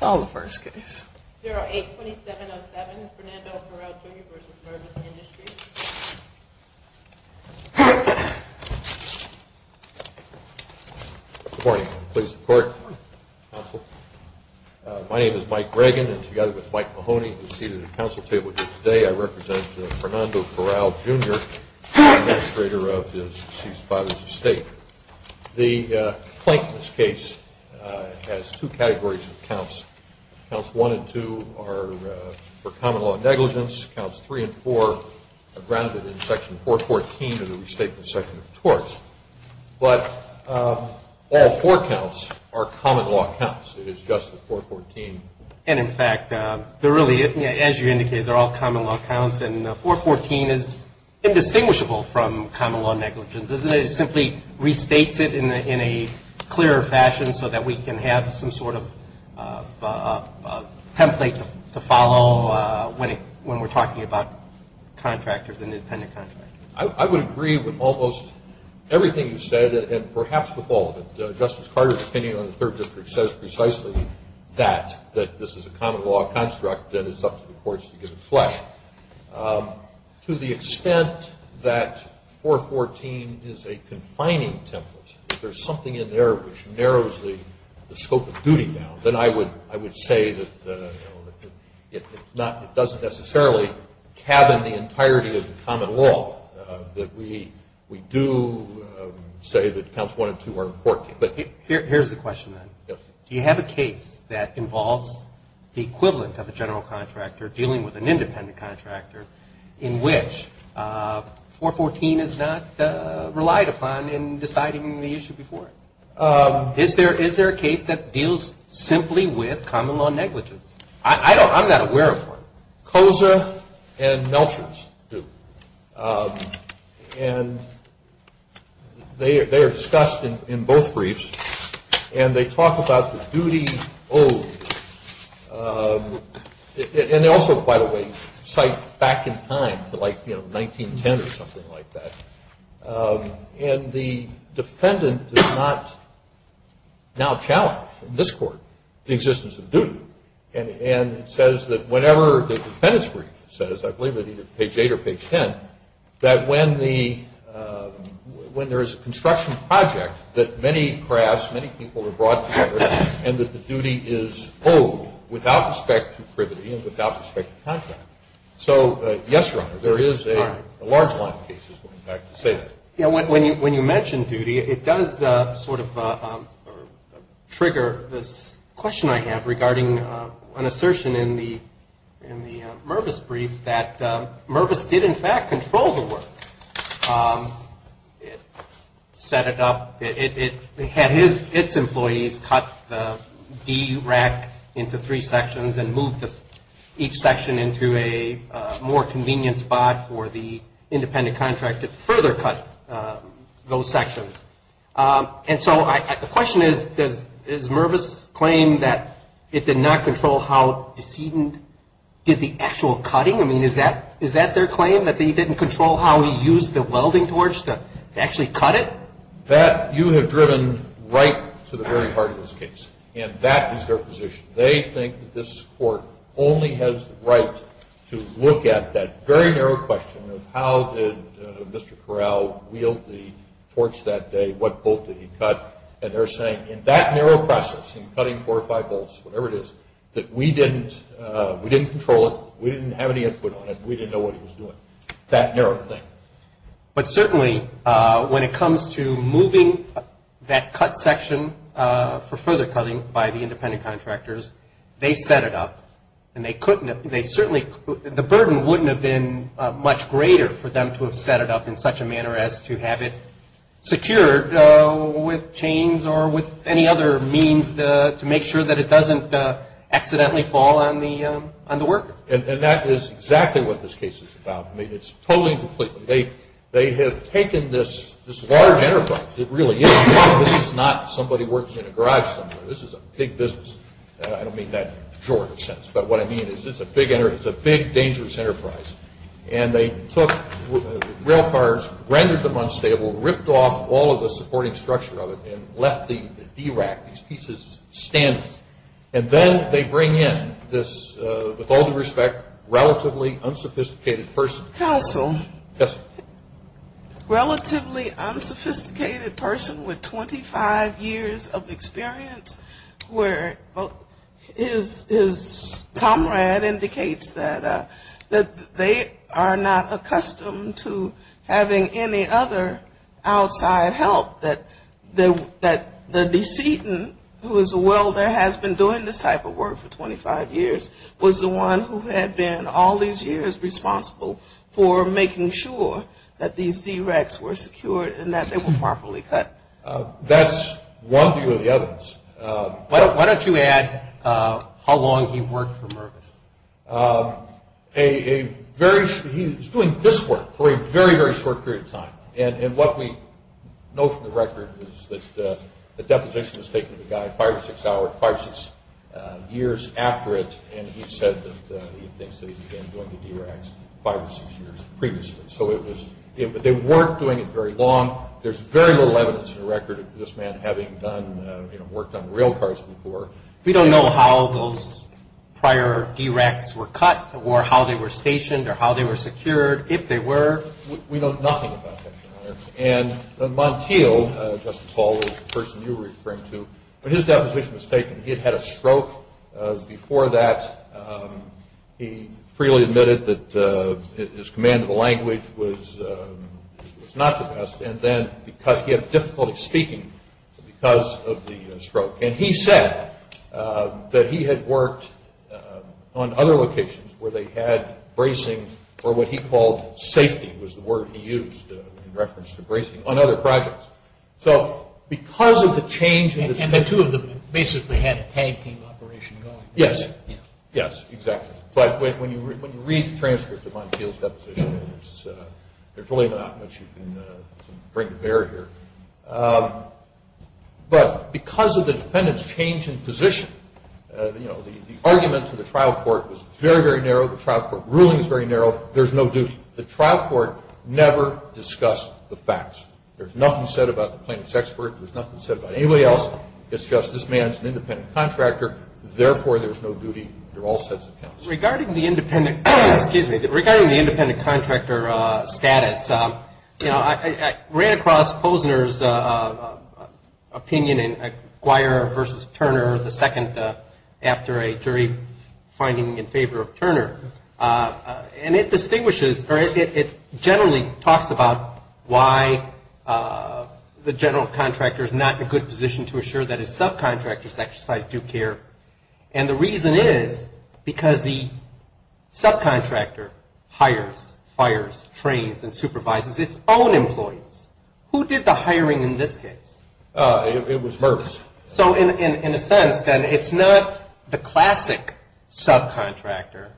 082707, Fernando Corral Jr. v. Mervis Industries Good morning. Please report, counsel. My name is Mike Reagan, and together with Mike Mahoney, I'm seated at the counsel table here today. I represent Fernando Corral Jr., the Administrator of his deceased father's estate. The plaintiff's case has two categories of counts. Counts 1 and 2 are for common-law negligence. Counts 3 and 4 are grounded in Section 414 of the Restatement Section of the Torts. But all four counts are common-law counts. It is just the 414. And in fact, they're really, as you indicated, they're all common-law counts, and 414 is indistinguishable from common-law negligence, isn't it? It simply restates it in a clearer fashion so that we can have some sort of template to follow when we're talking about contractors and independent contractors. I would agree with almost everything you said, and perhaps with all of it. Justice Carter, depending on the Third District, says precisely that, that this is a common-law construct that it's up to the courts to give it flesh. To the extent that 414 is a confining template, if there's something in there which narrows the scope of duty down, then I would say that it doesn't necessarily cabin the entirety of the common law, that we do say that counts 1 and 2 are important. Here's the question, then. Do you have a case that involves the equivalent of a general contractor dealing with an independent contractor in which 414 is not relied upon in deciding the issue before? Is there a case that deals simply with common-law negligence? I'm not aware of one. COSA and Melchers do. And they are discussed in both briefs, and they talk about the duty owed. And they also, by the way, cite back in time to like 1910 or something like that. And the defendant does not now challenge in this Court the existence of duty. And it says that whenever the defendant's brief says, I believe it's page 8 or page 10, that when there is a construction project that many crafts, many people are brought together, and that the duty is owed without respect to privity and without respect to contract. So, yes, Your Honor, there is a large line of cases going back to safety. When you mention duty, it does sort of trigger this question I have regarding an assertion in the Mervis brief that Mervis did, in fact, control the work. It set it up, it had its sections and moved each section into a more convenient spot for the independent contract to further cut those sections. And so the question is, does Mervis claim that it did not control how the decedent did the actual cutting? I mean, is that their claim, that they didn't control how he used the welding torch to actually cut it? That, you have driven right to the very heart of this case. And that is their position. They think that this Court only has the right to look at that very narrow question of how did Mr. Corral wield the torch that day, what bolt did he cut, and they're saying in that narrow process, in cutting four or five bolts, whatever it is, that we didn't control it, we didn't have any input on it, we didn't know what he was doing. That narrow thing. But certainly, when it comes to moving that cut section for further cutting by the independent contractors, they set it up, and they certainly, the burden wouldn't have been much greater for them to have set it up in such a manner as to have it secured with chains or with any other means to make sure that it doesn't accidentally fall on the worker. And that is exactly what this case is about. I mean, it's totally and completely, they have taken this large enterprise, it really is, this is not somebody working in a garage somewhere, this is a big business, I don't mean that in a jorny sense, but what I mean is it's a big enterprise, it's a big dangerous enterprise, and they took rail cars, rendered them unstable, ripped off all of the supporting structure of it, and left the D-rack, these are, in my own respect, relatively unsophisticated persons. Counsel. Yes, ma'am. Relatively unsophisticated person with 25 years of experience where his comrade indicates that they are not accustomed to having any other outside help, that the decedent, who had been all these years responsible for making sure that these D-racks were secured and that they were properly cut. That's one view of the evidence. Why don't you add how long he worked for Mervis? A very, he was doing this work for a very, very short period of time, and what we know from the record is that the deposition was taken to the guy five or six hours, five or six years after it, and he said that he thinks that he's been doing the D-racks five or six years previously. So it was, they weren't doing it very long. There's very little evidence in the record of this man having done, worked on rail cars before. We don't know how those prior D-racks were cut or how they were stationed or how they We know nothing about that, Your Honor. And Montiel, Justice Hall, the person you were referring to, when his deposition was taken, he had had a stroke. Before that, he freely admitted that his command of the language was not the best, and then because he had difficulty speaking because of the stroke, and he said that he had worked on other locations where they had bracing for what he called safety, was the word he used for bracing, on other projects. So because of the change in the And the two of them basically had a tag team operation going. Yes. Yes, exactly. But when you read the transcripts of Montiel's deposition, there's really not much you can bring to bear here. But because of the defendant's change in position, you know, the argument to the trial court was very, very narrow. The trial court ruling is very narrow. There's no duty. The trial court never discussed the facts. There's nothing said about the plaintiff's expert. There's nothing said about anybody else. It's just this man's an independent contractor. Therefore there's no duty. There are all sets of counts. Regarding the independent, excuse me, regarding the independent contractor status, you know, I ran across Posner's opinion in Guire v. Turner, the second after a jury finding in favor of Turner. And it distinguishes or it generally talks about why the general contractor is not in a good position to assure that his subcontractors exercise due care. And the reason is because the subcontractor hires, fires, trains, and supervises its own employees. Who did the hiring in this case? It was Mervis. So in a sense, then, it's not the classic subcontractor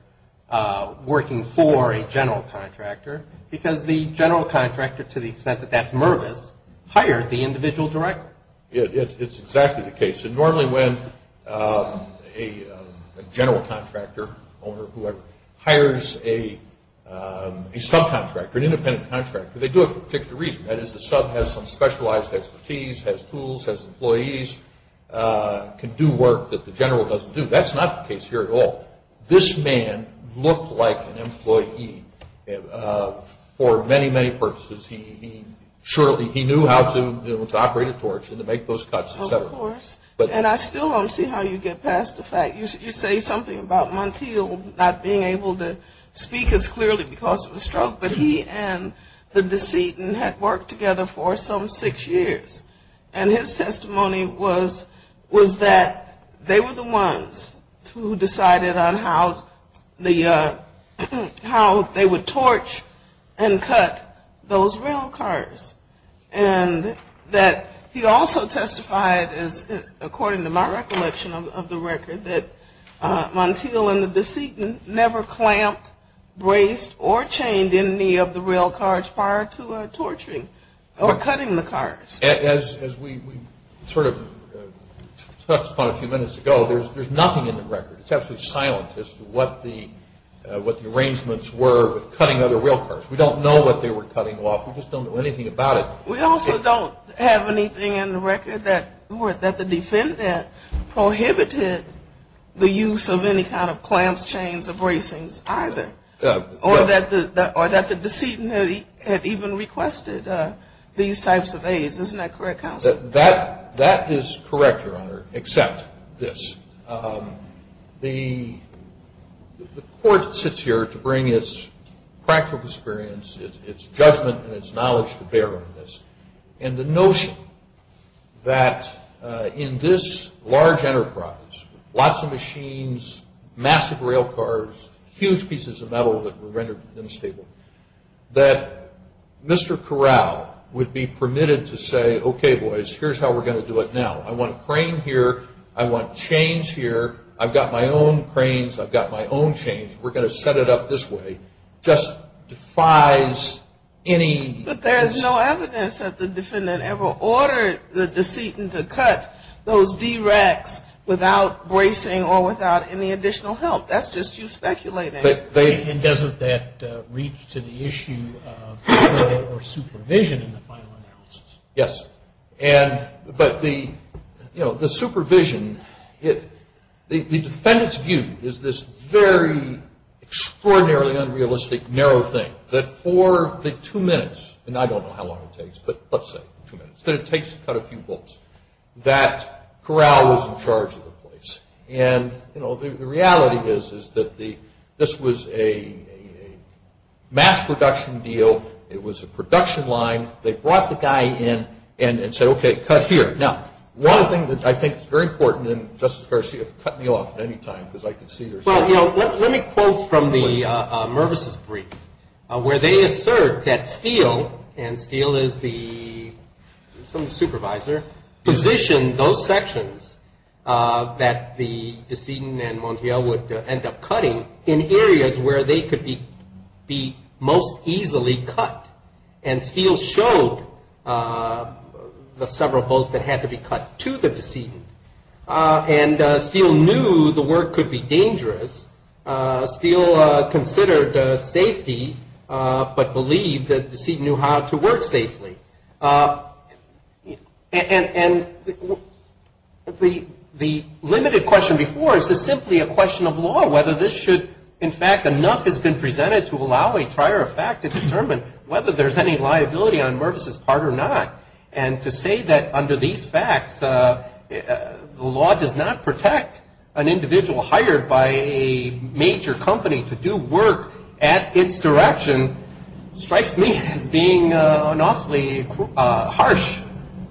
working for a general contractor because the general contractor, to the extent that that's Mervis, hired the individual directly. It's exactly the case. And normally when a general contractor, owner, whoever, hires a subcontractor, an independent contractor, they do it for a particular reason. That is the sub has some specialized expertise, has tools, has employees, can do work that the general doesn't do. That's not the case here at all. This man looked like an employee for many, many purposes. He surely, he knew how to, you know, to operate a torch and to make those cuts, et cetera. And I still don't see how you get past the fact, you say something about Montiel not being able to speak as clearly because of a stroke, but he and the decedent had worked together for some six years. And his testimony was that they were the ones who decided on how they would torch and cut those rail cars. And that he also testified, according to my recollection of the record, that Montiel and Or cutting the cars. As we sort of touched upon a few minutes ago, there's nothing in the record. It's absolutely silent as to what the arrangements were with cutting other rail cars. We don't know what they were cutting off. We just don't know anything about it. We also don't have anything in the record that the defendant prohibited the use of any kind of clamps, chains, or bracings either, or that the decedent had even requested these types of aids. Isn't that correct, counsel? That is correct, Your Honor, except this. The court sits here to bring its practical experience, its judgment, and its knowledge to bear on this, and the notion that in this large enterprise, lots of machines, massive rail cars, huge pieces of metal that were rendered unstable, that Mr. Corral would be permitted to say, okay boys, here's how we're going to do it now. I want a crane here, I want chains here, I've got my own cranes, I've got my own chains, we're going to set it up this way. It just defies any... But there's no evidence that the defendant ever ordered the decedent to cut those D-racks without bracing or without any additional help. That's just you speculating. But doesn't that reach to the issue of supervision in the final analysis? Yes. But the supervision, the defendant's view is this very extraordinarily unrealistic narrow thing that for the two minutes, and I don't know how long it takes, but let's say two minutes, that it takes to cut a few bolts, that Corral was in charge of the place. And the reality is that this was a mass production deal, it was a production line, they brought the guy in and said, okay, cut here. Now, one thing that I think is very important, and Justice Garcia, cut me off at any time because I can see there's... Well, you know, let me quote from the Mervis' brief, where they assert that Steele, and Steele is the supervisor, positioned those sections that the decedent and Montiel would the several bolts that had to be cut to the decedent. And Steele knew the work could be dangerous. Steele considered safety, but believed that the decedent knew how to work safely. And the limited question before is this simply a question of law, whether this should, in fact, enough has been presented to allow a prior effect to determine whether there's any liability on Mervis' part or not. And to say that under these facts, the law does not protect an individual hired by a major company to do work at its direction, strikes me as being an awfully harsh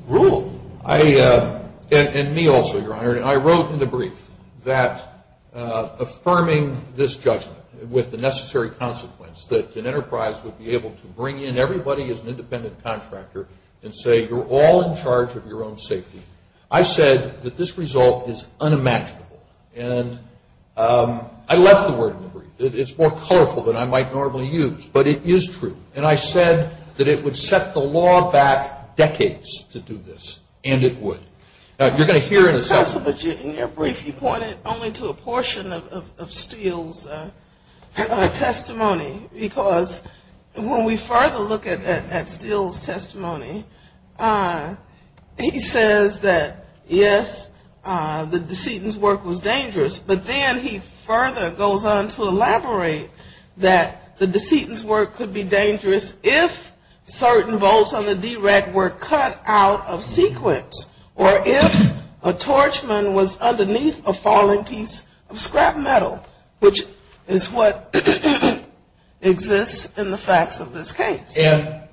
rule. I, and me also, Your Honor, I wrote in the brief that affirming this judgment with the as an independent contractor and say, you're all in charge of your own safety. I said that this result is unimaginable, and I left the word in the brief. It's more colorful than I might normally use, but it is true. And I said that it would set the law back decades to do this, and it would. Now, you're going to hear in a second... Counsel, but in your brief, you pointed only to a portion of Steele's testimony, because when we further look at Steele's testimony, he says that, yes, the decedent's work was dangerous, but then he further goes on to elaborate that the decedent's work could be dangerous if certain bolts on the DREC were cut out of sequence, or if a torchman was used in the facts of this case by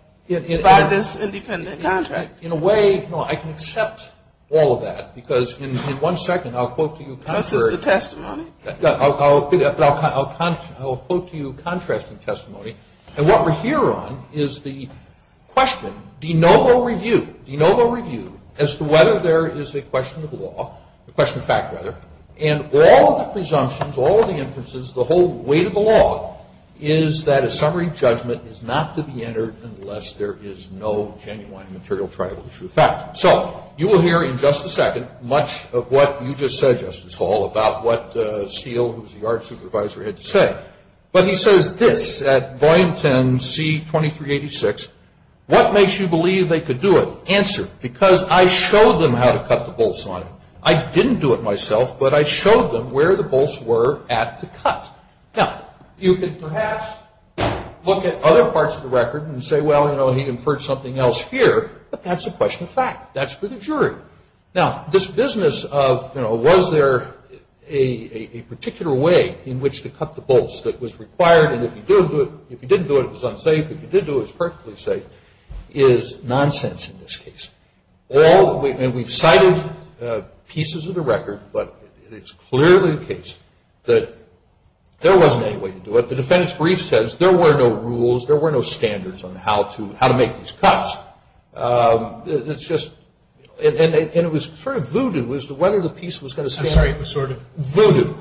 this independent contractor. In a way, no, I can accept all of that, because in one second, I'll quote to you contrary... This is the testimony? I'll quote to you contrasting testimony, and what we're here on is the question, de novo review, de novo review, as to whether there is a question of law, a question of fact, rather, and all of the presumptions, all of the inferences, the whole weight of the law is that a summary judgment is not to be entered unless there is no genuine material trial of the true fact. So, you will hear in just a second much of what you just said, Justice Hall, about what Steele, who's the Art Supervisor, had to say, but he says this at Volume 10, C-2386, what makes you believe they could do it? Answer, because I showed them how to cut the bolts on it. I didn't do it myself, but I showed them where the bolts were at to cut. Now, you can perhaps look at other parts of the record and say, well, you know, he inferred something else here, but that's a question of fact. That's for the jury. Now, this business of, you know, was there a particular way in which to cut the bolts that was required, and if you didn't do it, it was unsafe, if you did do it, it was perfectly safe, is nonsense in this case. All, and we've cited pieces of the record, but it's clearly the case that there wasn't any way to do it. The defendant's brief says there were no rules, there were no standards on how to make these cuts. It's just, and it was sort of voodoo as to whether the piece was going to stand up. I'm sorry, it was sort of? Voodoo,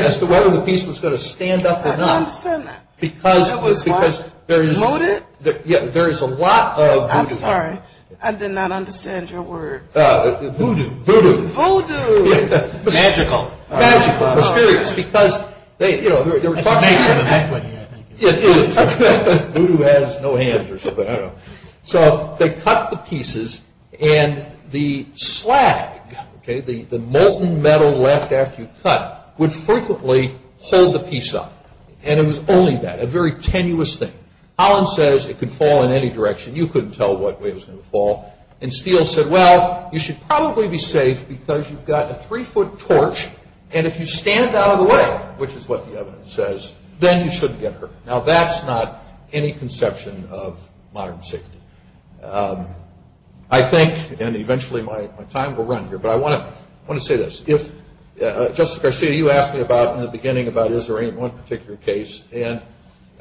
as to whether the piece was going to stand up or not. I don't understand that. Because there is. That was what? Voodoo? Yeah, there is a lot of voodoo. I'm sorry. I did not understand your word. Voodoo. Voodoo. Voodoo. Magical. Magical. Mysterious. Because they, you know, they were talking. It's amazing. It is. Voodoo has no hands or something, I don't know. So they cut the pieces, and the slag, okay, the molten metal left after you cut, would frequently hold the piece up, and it was only that, a very tenuous thing. Holland says it could fall in any direction. You couldn't tell what way it was going to fall. And Steele said, well, you should probably be safe because you've got a three-foot torch, and if you stand out of the way, which is what the evidence says, then you shouldn't get hurt. Now that's not any conception of modern safety. I think, and eventually my time will run here, but I want to say this. If, Justice Garcia, you asked me about, in the beginning, about is there any one particular case, and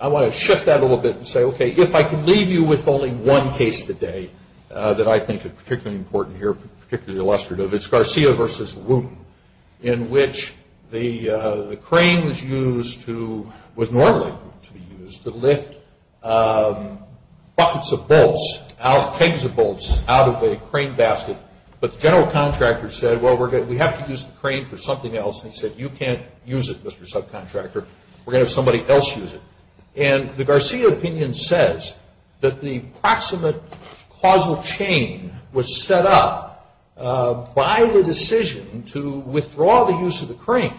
I want to shift that a little bit and say, okay, if I can leave you with only one case today that I think is particularly important here, particularly illustrative, it's Garcia versus Wooten, in which the crane was used to, was normally to be used to lift buckets of bolts, pegs of bolts out of a crane basket, but the general contractor said, well, we have to use the crane for something else, and he said, you can't use it, Mr. Subcontractor. We're going to have somebody else use it, and the Garcia opinion says that the proximate causal chain was set up by the decision to withdraw the use of the crane,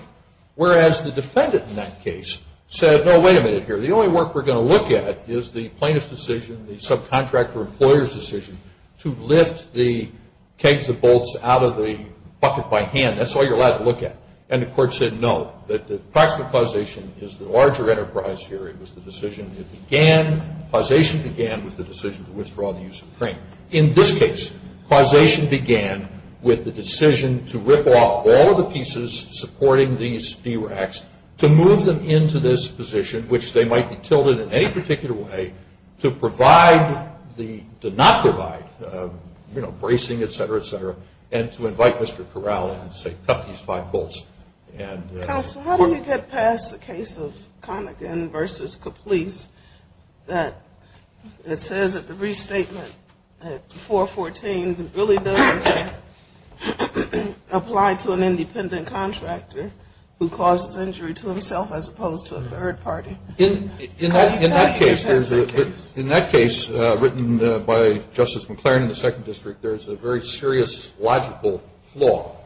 whereas the defendant in that case said, no, wait a minute here, the only work we're going to look at is the plaintiff's decision, the subcontractor employer's decision to lift the kegs of bolts out of the bucket by hand, that's all you're allowed to look at, and the court said, no, the proximate causation is the larger enterprise here, it was the decision that began, causation began with the decision to withdraw the use of the crane. In this case, causation began with the decision to rip off all of the pieces supporting these D-racks to move them into this position, which they might be tilted in any particular way, to provide the, to not provide, you know, bracing, et cetera, et cetera, and to invite Mr. Corral and say, cut these five bolts. Counsel, how do you get past the case of Conaghan v. Caplice, that it says at the restatement that 414 really doesn't apply to an independent contractor who causes injury to himself as opposed to a third party? In that case, there's a, in that case, written by Justice McLaren in the Second District, there's a very serious logical flaw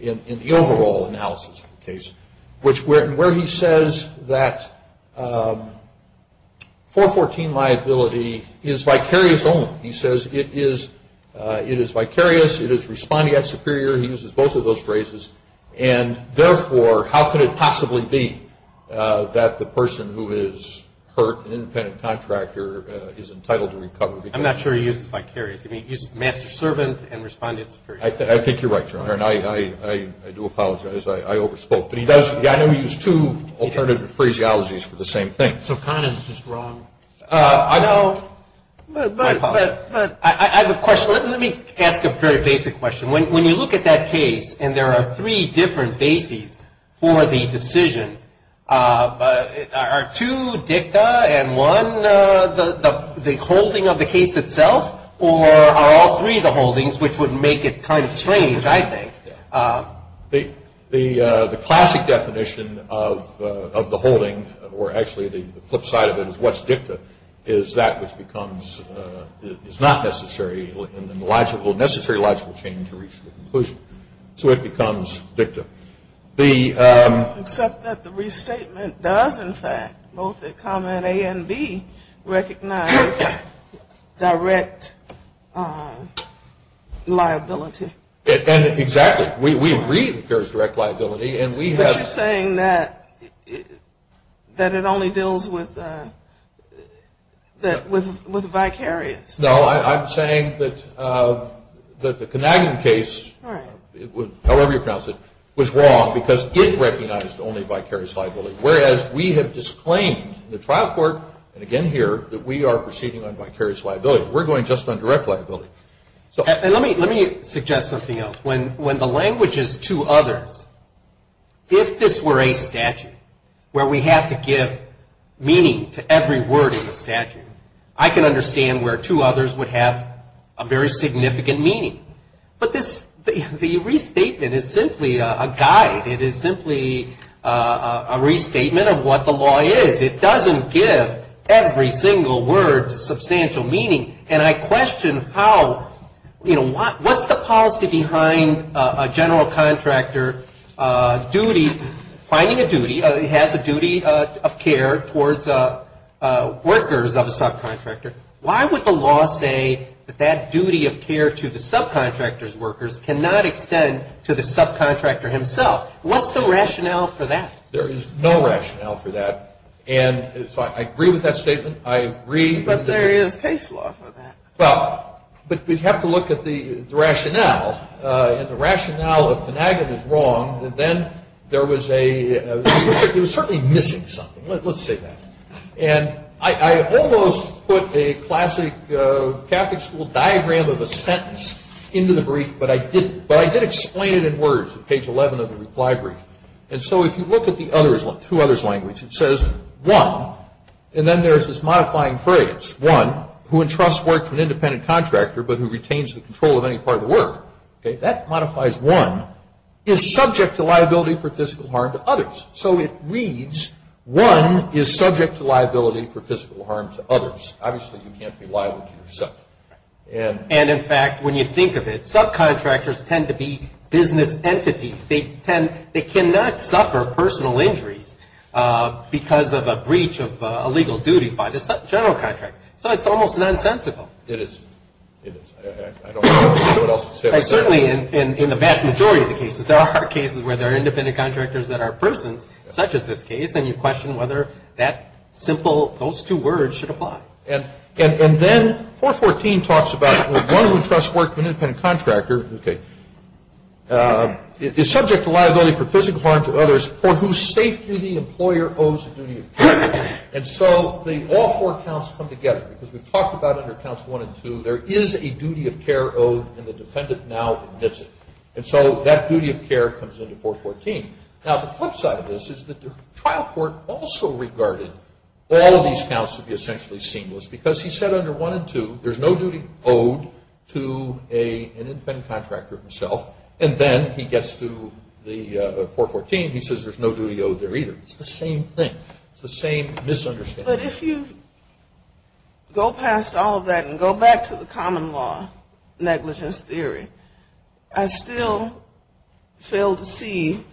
in the overall analysis of the case, which where he says that 414 liability is vicarious only. He says it is vicarious, it is responding at superior, he uses both of those phrases, and therefore, how could it possibly be that the person who is hurt, an independent contractor, is entitled to recover because of that? I'm not sure he uses vicarious. I mean, he used master servant and responded at superior. I think you're right, Your Honor, and I do apologize. I overspoke. But he does, I know he used two alternative phraseologies for the same thing. So Conaghan's just wrong. I know. But I have a question. Let me ask a very basic question. When you look at that case and there are three different bases for the decision, are two dicta and one the holding of the case itself, or are all three the holdings, which would make it kind of strange, I think. The classic definition of the holding, or actually the flip side of it is what's dicta, is that which becomes, is not necessary, and the logical, necessary logical change to reach the conclusion. So it becomes dicta. Except that the restatement does, in fact, both at comment A and B, recognize direct liability. Exactly. We agree that there is direct liability, and we have But you're saying that it only deals with vicarious. No, I'm saying that the Conaghan case, however you pronounce it, was wrong because it recognized only vicarious liability, whereas we have disclaimed in the trial court, and again here, that we are proceeding on vicarious liability. We're going just on direct liability. And let me suggest something else. When the language is to others, if this were a statute where we have to give meaning to every word in the statute, I can understand where to others would have a very significant meaning. But the restatement is simply a guide. It is simply a restatement of what the law is. It doesn't give every single word substantial meaning. And I question how, you know, what's the policy behind a general contractor duty, finding a duty, has a duty of care towards workers of a subcontractor. Why would the law say that that duty of care to the subcontractor's workers cannot extend to the subcontractor himself? What's the rationale for that? There is no rationale for that. And so I agree with that statement. I agree. But there is case law for that. Well, but we'd have to look at the rationale. And the rationale of Penagon is wrong. Then there was a – it was certainly missing something. Let's say that. And I almost put a classic Catholic school diagram of a sentence into the brief, but I did explain it in words at page 11 of the reply brief. And so if you look at the other's – through other's language, it says, one, and then there's this modifying phrase, one, who entrusts work to an independent contractor but who retains the control of any part of the work, okay, that modifies one, is subject to liability for physical harm to others. So it reads, one is subject to liability for physical harm to others. Obviously, you can't be liable to yourself. And in fact, when you think of it, subcontractors tend to be business entities. They tend – they cannot suffer personal injuries because of a breach of a legal duty by the general contractor. So it's almost nonsensical. It is. It is. I don't know what else to say about that. Certainly in the vast majority of the cases, there are cases where there are independent contractors that are persons, such as this case, and you question whether that simple – those two words should apply. And then 414 talks about one who trusts work to an independent contractor, okay, is subject to liability for physical harm to others for whose safety the employer owes the duty of care. And so all four counts come together because we've talked about under Counts 1 and 2, there is a duty of care owed and the defendant now admits it. And so that duty of care comes into 414. Now, the flip side of this is that the trial court also regarded all of these counts to be essentially seamless because he said under 1 and 2, there's no duty owed to an independent contractor himself. And then he gets to the 414. He says there's no duty owed there either. It's the same thing. It's the same misunderstanding. But if you go past all of that and go back to the common law negligence theory, I still fail to see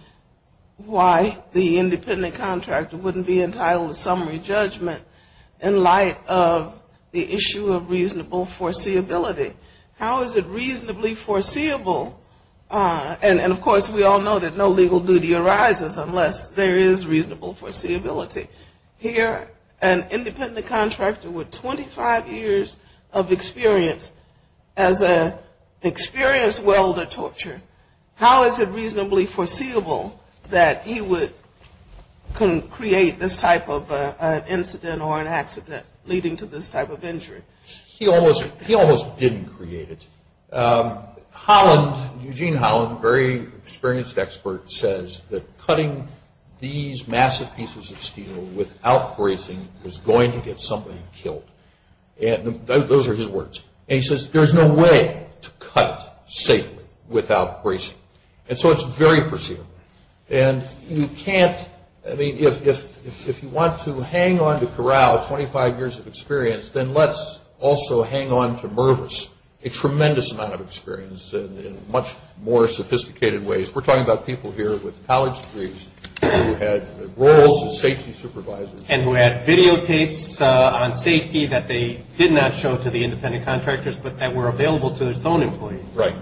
why the independent contractor wouldn't be entitled to summary judgment in light of the issue of reasonable foreseeability. How is it reasonably foreseeable? And, of course, we all know that no legal duty arises unless there is reasonable foreseeability. Here, an independent contractor with 25 years of experience as an experienced welder torture, how is it reasonably foreseeable that he would create this type of incident or an accident leading to this type of injury? He almost didn't create it. Holland, Eugene Holland, a very experienced expert, says that cutting these massive pieces of steel without brazing is going to get somebody killed. Those are his words. And he says there's no way to cut safely without brazing. And so it's very foreseeable. And you can't, I mean, if you want to hang on to Corral, 25 years of experience, then let's also hang on to Mervis, a tremendous amount of experience in much more sophisticated ways. We're talking about people here with college degrees who had roles as safety supervisors. And who had videotapes on safety that they did not show to the independent contractors, but that were available to its own employees. Right.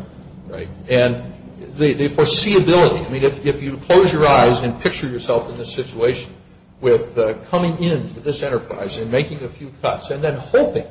Right. And the foreseeability, I mean, if you close your eyes and picture yourself in this situation with coming into this enterprise and making a few cuts, and then hoping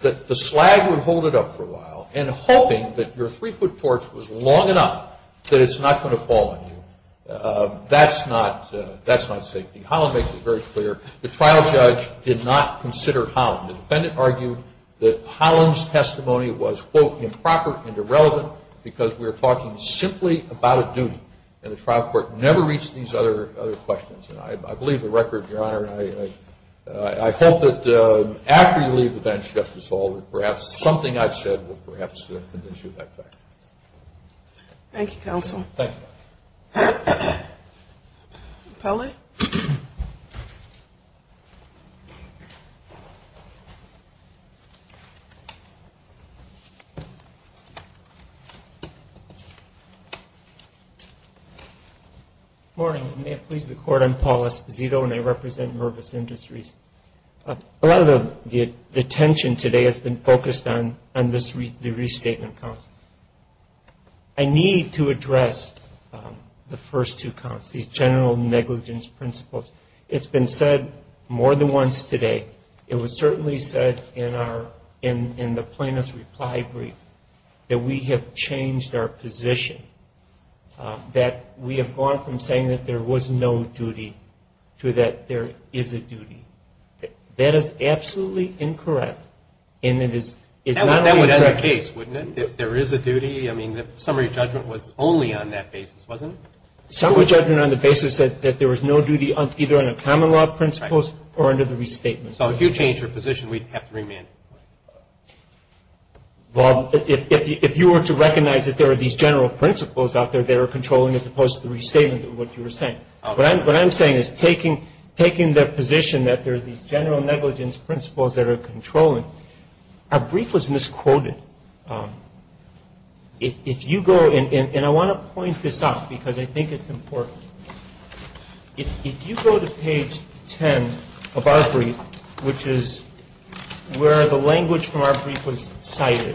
that the slag would hold it up for a while, and hoping that your three-foot torch was long enough that it's not going to fall on you, that's not safety. Holland makes it very clear. The trial judge did not consider Holland. The defendant argued that Holland's testimony was, quote, improper and irrelevant, because we were talking simply about a duty. And the trial court never reached these other questions. And I believe the record, Your Honor, I hope that after you leave the bench, Justice Hall, that perhaps something I've said will perhaps convince you of that fact. Thank you, counsel. Thank you. Appelli. Good morning. May it please the Court, I'm Paul Esposito, and I represent Mervis Industries. A lot of the attention today has been focused on the restatement counts. I need to address the first two counts, these general negligence principles. It's been said more than once today. It was certainly said in the plaintiff's reply brief that we have changed our position, that we have gone from saying that there was no duty to that there is a duty. That is absolutely incorrect. That would end the case, wouldn't it, if there is a duty? I mean, the summary judgment was only on that basis, wasn't it? Summary judgment on the basis that there was no duty either under common law principles or under the restatement. So if you change your position, we'd have to remand it. Well, if you were to recognize that there are these general principles out there that are controlling as opposed to the restatement of what you were saying. What I'm saying is taking the position that there are these general negligence principles that are controlling, our brief was misquoted. If you go, and I want to point this out because I think it's important. If you go to page 10 of our brief, which is where the language from our brief was cited,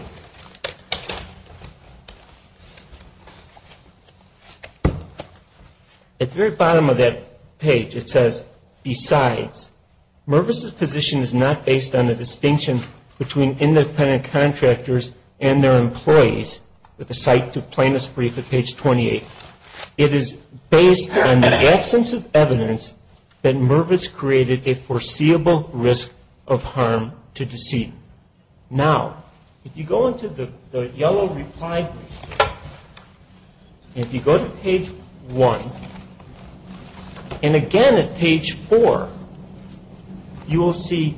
at the very bottom of that page it says, besides, Mervis's position is not based on a distinction between independent contractors and their employees, with a cite to plaintiff's brief at page 28. It is based on the absence of evidence that Mervis created a foreseeable risk of harm to deceit. Now, if you go into the yellow reply brief, and if you go to page 1, and again at page 4, you will see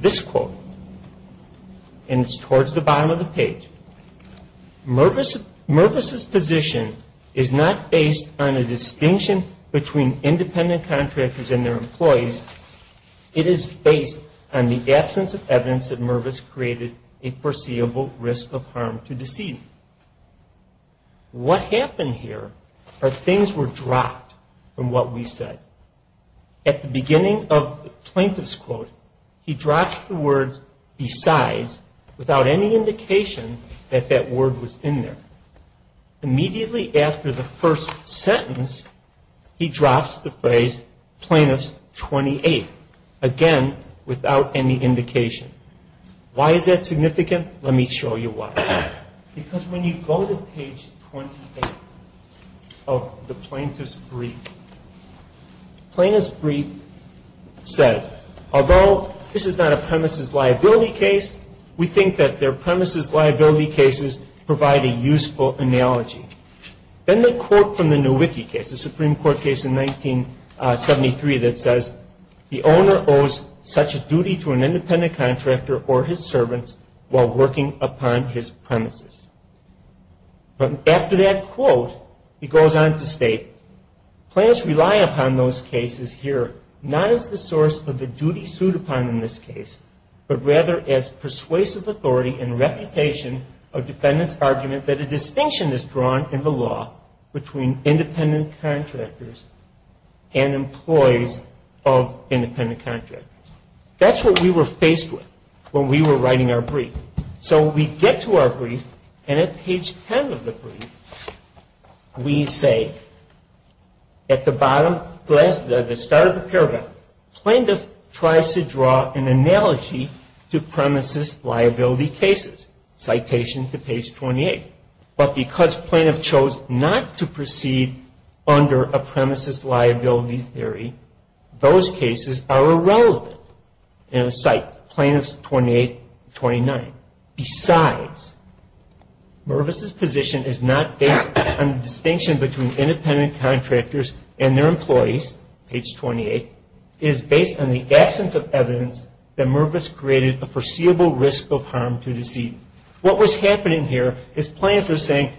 this quote, and it's towards the bottom of the page. Mervis's position is not based on a distinction between independent contractors and their employees. It is based on the absence of evidence that Mervis created a foreseeable risk of harm to deceit. What happened here are things were dropped from what we said. At the beginning of the plaintiff's quote, he drops the words, besides, without any indication that that word was in there. Immediately after the first sentence, he drops the phrase, plaintiff's 28. Again, without any indication. Why is that significant? Let me show you why. Because when you go to page 28 of the plaintiff's brief, plaintiff's brief says, although this is not a premises liability case, we think that their premises liability cases provide a useful analogy. Then the quote from the Nowicki case, a Supreme Court case in 1973 that says, the owner owes such a duty to an independent contractor or his servants while working upon his premises. After that quote, he goes on to state, plaintiffs rely upon those cases here not as the source of the duty sued upon in this case, but rather as persuasive authority and reputation of defendant's argument that a distinction is drawn in the law between independent contractors and employees of independent contractors. That's what we were faced with when we were writing our brief. So we get to our brief, and at page 10 of the brief, we say, at the bottom, at the start of the paragraph, plaintiff tries to draw an analogy to premises liability cases, citation to page 28. But because plaintiff chose not to proceed under a premises liability theory, those cases are irrelevant in the site, plaintiffs 28 and 29. Besides, Mervis's position is not based on the distinction between independent contractors and their employees, page 28. It is based on the absence of evidence that Mervis created a foreseeable risk of harm to the seat. What was happening here is plaintiffs were saying,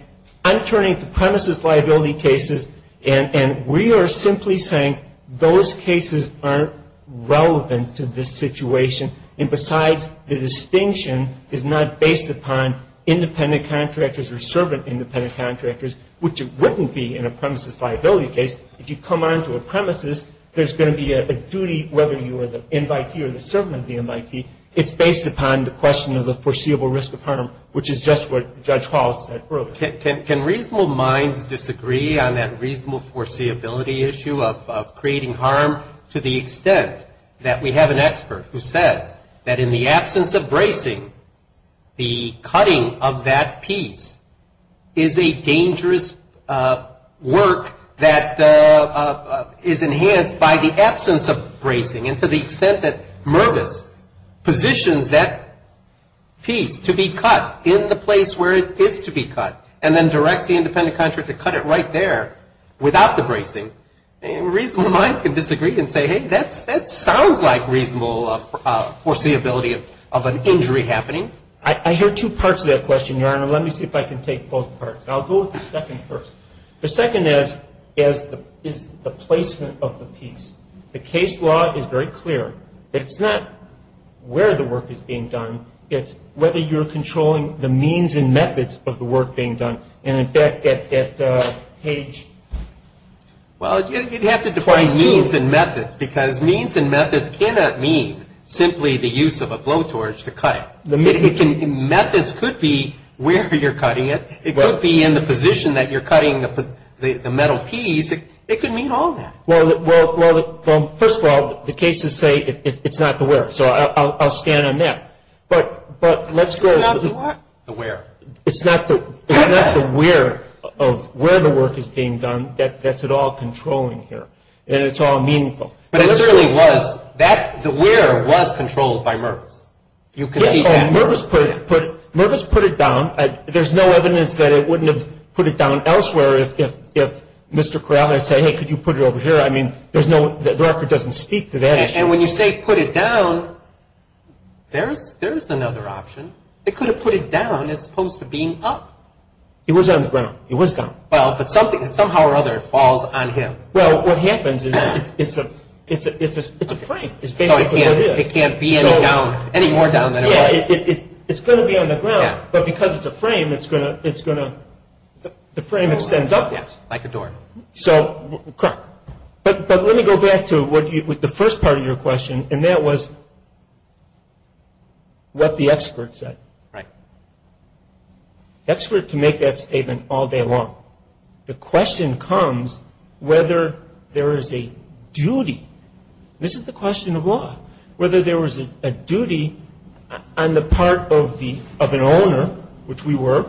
I'm turning to premises liability cases, and we are simply saying those cases aren't relevant to this situation. And besides, the distinction is not based upon independent contractors or servant independent contractors, which it wouldn't be in a premises liability case. If you come onto a premises, there's going to be a duty, whether you are the invitee or the servant of the invitee, it's based upon the question of the foreseeable risk of harm, which is just what Judge Hall said earlier. Can reasonable minds disagree on that reasonable foreseeability issue of creating harm to the extent that we have an expert who says that in the absence of bracing, the cutting of that piece is a dangerous work that is enhanced by the absence of bracing, and to the extent that Mervis positions that piece to be cut in the place where it is to be cut and then directs the independent contractor to cut it right there without the bracing, reasonable minds can disagree and say, hey, that sounds like reasonable foreseeability of an injury happening. I hear two parts to that question, Your Honor. Let me see if I can take both parts. I'll go with the second first. The second is the placement of the piece. The case law is very clear. It's not where the work is being done. It's whether you're controlling the means and methods of the work being done. And, in fact, at page 22. Well, you'd have to define means and methods because means and methods cannot mean simply the use of a blowtorch to cut it. Methods could be where you're cutting it. It could be in the position that you're cutting the metal piece. It could mean all that. Well, first of all, the cases say it's not the where, so I'll stand on that. But let's go to the where. It's not the where of where the work is being done. That's it all controlling here. And it's all meaningful. But it certainly was. The where was controlled by Mervis. You can see that. Yes, but Mervis put it down. There's no evidence that it wouldn't have put it down elsewhere if Mr. Craven had said, hey, could you put it over here? I mean, the record doesn't speak to that issue. And when you say put it down, there's another option. It could have put it down as opposed to being up. It was on the ground. It was down. Well, but somehow or other it falls on him. Well, what happens is it's a frame. It's basically what it is. So it can't be any more down than it was. Yes, it's going to be on the ground, but because it's a frame, the frame extends up. Yes, like a door. Correct. But let me go back to the first part of your question, and that was what the expert said. Right. The expert can make that statement all day long. The question comes whether there is a duty. This is the question of law, whether there was a duty on the part of an owner, which we were,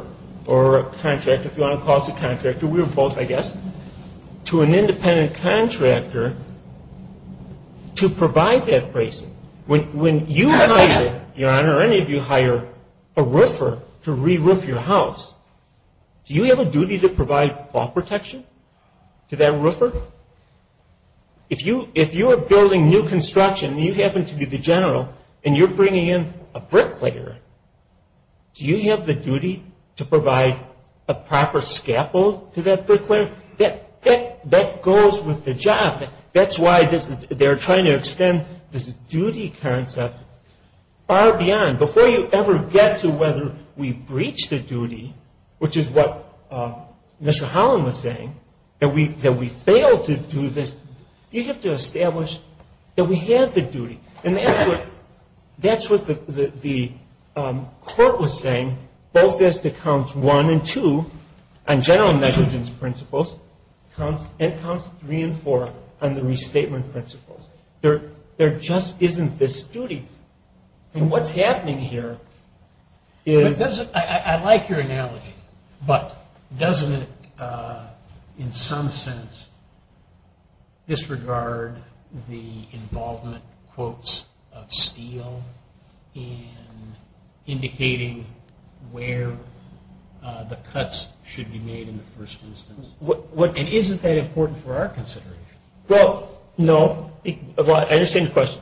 or a contractor, if you want to call us a contractor, we were both, I guess, to an independent contractor to provide that bracing. When you hire, Your Honor, or any of you hire a roofer to re-roof your house, do you have a duty to provide fall protection to that roofer? If you are building new construction and you happen to be the general and you're bringing in a bricklayer, do you have the duty to provide a proper scaffold to that bricklayer? That goes with the job. That's why they're trying to extend this duty concept far beyond. Before you ever get to whether we breach the duty, which is what Mr. Holland was saying, that we fail to do this, you have to establish that we have the duty. And that's what the court was saying, both as to Counts 1 and 2 on general negligence principles and Counts 3 and 4 on the restatement principles. There just isn't this duty. And what's happening here is... of steel in indicating where the cuts should be made in the first instance. And isn't that important for our consideration? Well, no. I understand your question.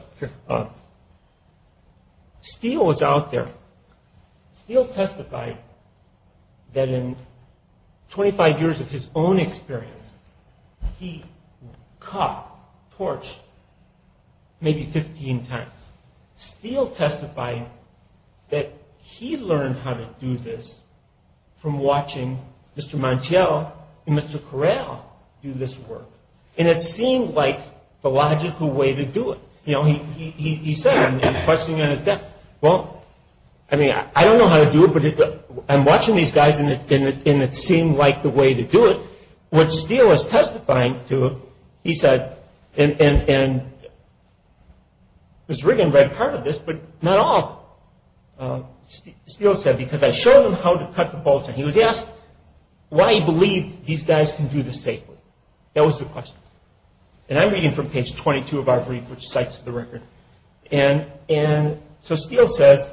Steel was out there. Steel testified that in 25 years of his own experience, he cut, torched maybe 15 times. Steel testified that he learned how to do this from watching Mr. Montiel and Mr. Corral do this work. And it seemed like the logical way to do it. You know, he said in questioning on his desk, well, I mean, I don't know how to do it, but I'm watching these guys, and it seemed like the way to do it. What Steel is testifying to, he said, and Ms. Riggan read part of this, but not all Steel said, because I showed him how to cut the bolts. And he was asked why he believed these guys can do this safely. That was the question. And I'm reading from page 22 of our brief, which cites the record. And so Steel says,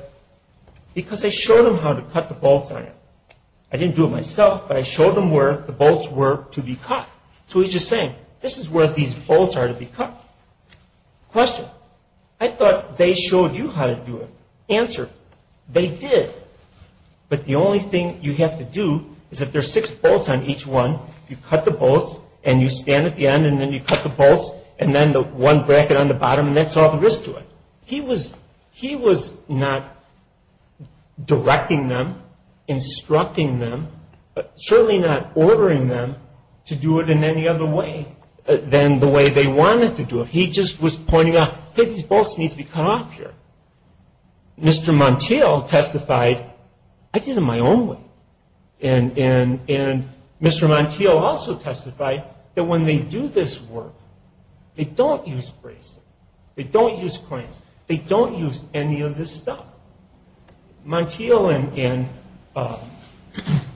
because I showed him how to cut the bolts on it. I didn't do it myself, but I showed him where the bolts were to be cut. So he's just saying, this is where these bolts are to be cut. Question. I thought they showed you how to do it. Answer. They did. But the only thing you have to do is if there are six bolts on each one, you cut the bolts, and you stand at the end, and then you cut the bolts, and then the one bracket on the bottom, and that's all there is to it. He was not directing them, instructing them, certainly not ordering them to do it in any other way than the way they wanted to do it. He just was pointing out, hey, these bolts need to be cut off here. Mr. Montiel testified, I did it my own way. And Mr. Montiel also testified that when they do this work, they don't use braces. They don't use clamps. They don't use any of this stuff. Montiel and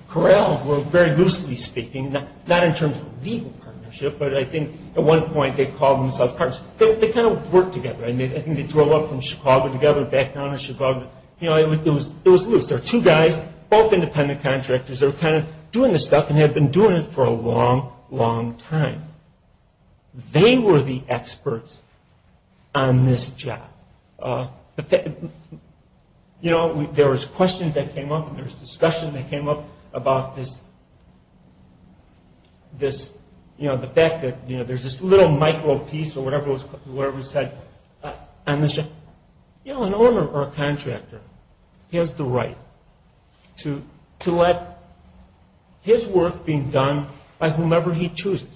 Corral were very loosely speaking, not in terms of legal partnership, but I think at one point they called themselves partners. They kind of worked together. I think they drove up from Chicago together, back down in Chicago. It was loose. There were two guys, both independent contractors, that were kind of doing this stuff and had been doing it for a long, long time. They were the experts on this job. There was questions that came up, and there was discussion that came up about this, the fact that there's this little micro piece or whatever was said on this job. You know, an owner or a contractor has the right to let his work be done by whomever he chooses.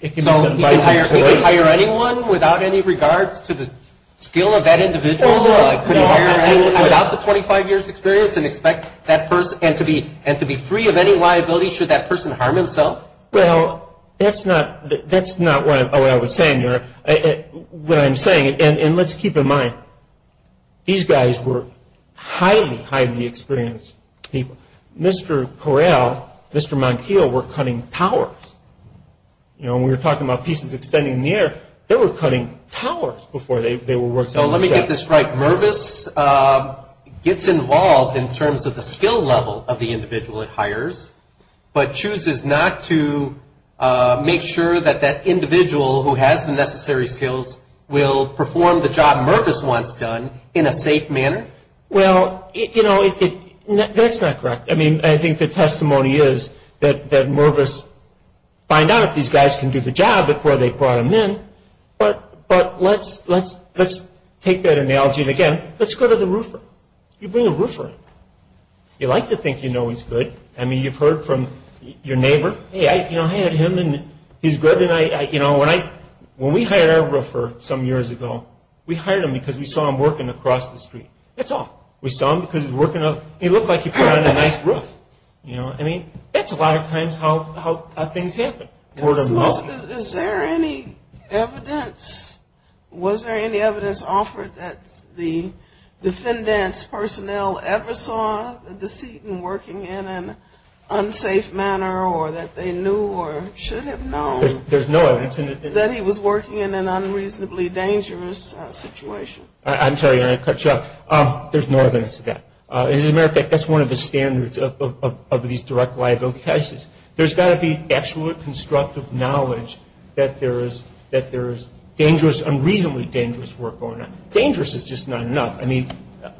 So he could hire anyone without any regards to the skill of that individual? He could hire anyone without the 25 years' experience and expect that person and to be free of any liability should that person harm himself? Well, that's not what I was saying here. What I'm saying, and let's keep in mind, these guys were highly, highly experienced people. Mr. Corral, Mr. Montiel were cutting towers. You know, when we were talking about pieces extending in the air, they were cutting towers before they were working on this job. So let me get this right. Mervis gets involved in terms of the skill level of the individual it hires, but chooses not to make sure that that individual who has the necessary skills will perform the job Mervis wants done in a safe manner? Well, you know, that's not correct. I mean, I think the testimony is that Mervis found out these guys can do the job before they brought them in, but let's take that analogy again. Let's go to the roofer. You bring a roofer in. You like to think you know he's good. I mean, you've heard from your neighbor, hey, I hired him and he's good. You know, when we hired our roofer some years ago, we hired him because we saw him working across the street. That's all. We saw him because he looked like he put on a nice roof. You know, I mean, that's a lot of times how things happen. Is there any evidence? Was there any evidence offered that the defendant's personnel ever saw the decedent working in an unsafe manner or that they knew or should have known that he was working in an unreasonably dangerous situation? I'm sorry. I'm going to cut you off. There's no evidence of that. As a matter of fact, that's one of the standards of these direct liability cases. There's got to be actual constructive knowledge that there is dangerous, unreasonably dangerous work going on. Dangerous is just not enough. I mean,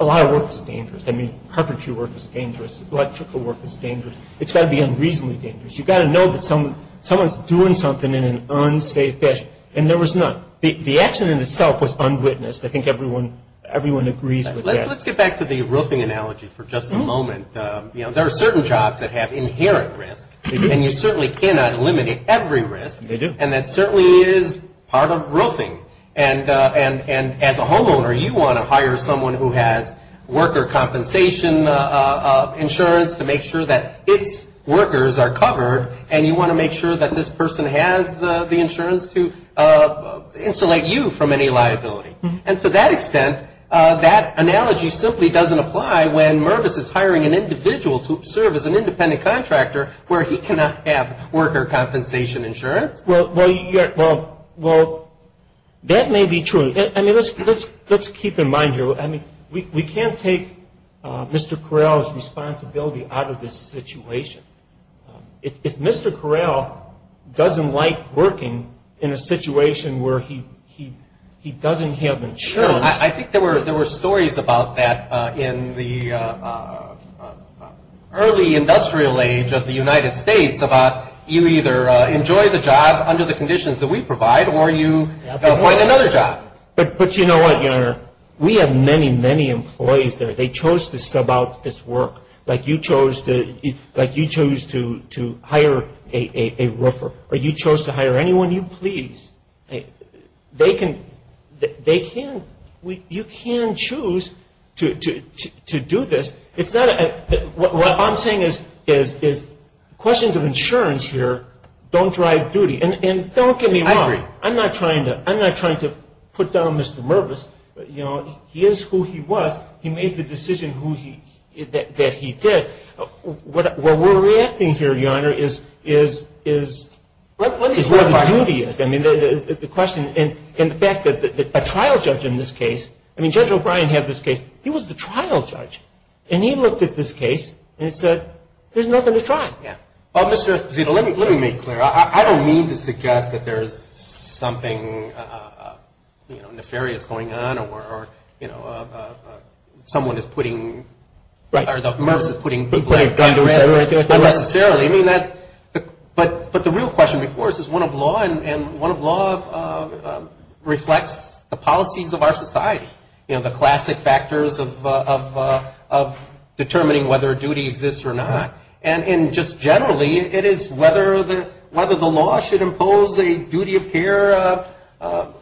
a lot of work is dangerous. I mean, carpentry work is dangerous. Electrical work is dangerous. It's got to be unreasonably dangerous. You've got to know that someone's doing something in an unsafe fashion, and there was none. The accident itself was unwitnessed. I think everyone agrees with that. Let's get back to the roofing analogy for just a moment. There are certain jobs that have inherent risk, and you certainly cannot eliminate every risk. They do. And that certainly is part of roofing. And as a homeowner, you want to hire someone who has worker compensation insurance to make sure that its workers are covered, and you want to make sure that this person has the insurance to insulate you from any liability. And to that extent, that analogy simply doesn't apply when Mervis is hiring an individual to serve as an independent contractor where he cannot have worker compensation insurance. Well, that may be true. I mean, let's keep in mind here. I mean, we can't take Mr. Correll's responsibility out of this situation. If Mr. Correll doesn't like working in a situation where he doesn't have insurance. I think there were stories about that in the early industrial age of the United States, about you either enjoy the job under the conditions that we provide, or you find another job. But you know what, Your Honor? We have many, many employees there. They chose to sub out this work. Like you chose to hire a roofer. Or you chose to hire anyone you please. They can, you can choose to do this. It's not, what I'm saying is questions of insurance here don't drive duty. And don't get me wrong. I'm not trying to put down Mr. Mervis. You know, he is who he was. He made the decision that he did. What we're reacting here, Your Honor, is where the duty is. I mean, the question, and the fact that a trial judge in this case, I mean, Judge O'Brien had this case. He was the trial judge. And he looked at this case and said, there's nothing to try. Well, Mr. Esposito, let me make it clear. I don't mean to suggest that there's something, you know, nefarious going on or, you know, someone is putting, or that Mervis is putting people under arrest unnecessarily. I mean, that, but the real question before us is one of law, and one of law reflects the policies of our society. You know, the classic factors of determining whether a duty exists or not. And just generally, it is whether the law should impose a duty of care upon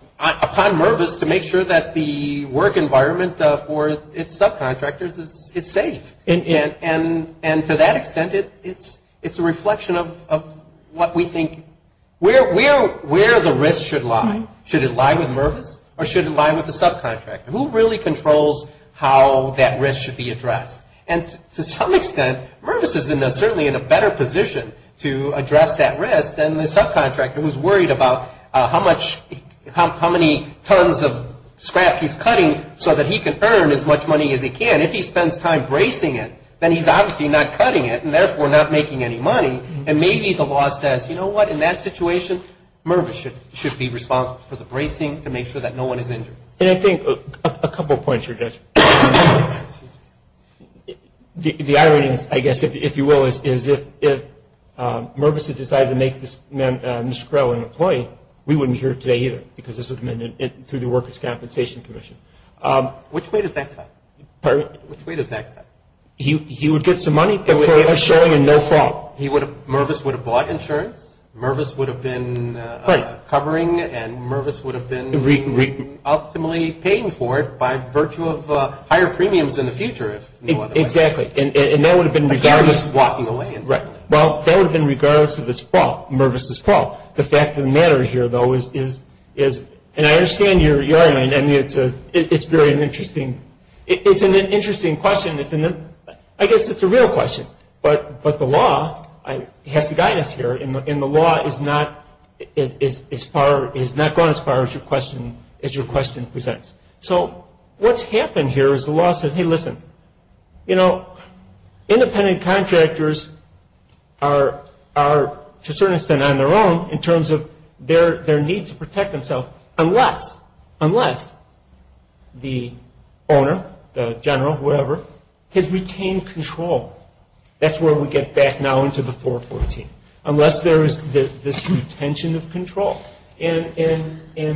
Mervis to make sure that the work environment for its subcontractors is safe. And to that extent, it's a reflection of what we think, where the risk should lie. Should it lie with Mervis, or should it lie with the subcontractor? Who really controls how that risk should be addressed? And to some extent, Mervis is certainly in a better position to address that risk than the subcontractor who's worried about how much, how many tons of scrap he's cutting so that he can earn as much money as he can. If he spends time bracing it, then he's obviously not cutting it, and therefore not making any money. And maybe the law says, you know what, in that situation, Mervis should be responsible for the bracing to make sure that no one is injured. And I think a couple of points you're addressing. The irony, I guess, if you will, is if Mervis had decided to make Mr. Crowe an employee, we wouldn't be here today either because this would have been through the Workers' Compensation Commission. Which way does that cut? Pardon? Which way does that cut? He would get some money before showing a no-fault. Mervis would have bought insurance. Mervis would have been covering. Right. Mervis would have been optimally paying for it by virtue of higher premiums in the future, if no other way. Exactly. And that would have been regardless. A guarantee of walking away. Right. Well, that would have been regardless of its fault, Mervis's fault. The fact of the matter here, though, is, and I understand your irony. I mean, it's very interesting. It's an interesting question. I guess it's a real question. But the law has to guide us here. And the law has not gone as far as your question presents. So what's happened here is the law says, hey, listen, you know, independent contractors are, to a certain extent, on their own in terms of their need to protect themselves, unless the owner, the general, whoever, has retained control. That's where we get back now into the 414, unless there is this retention of control. And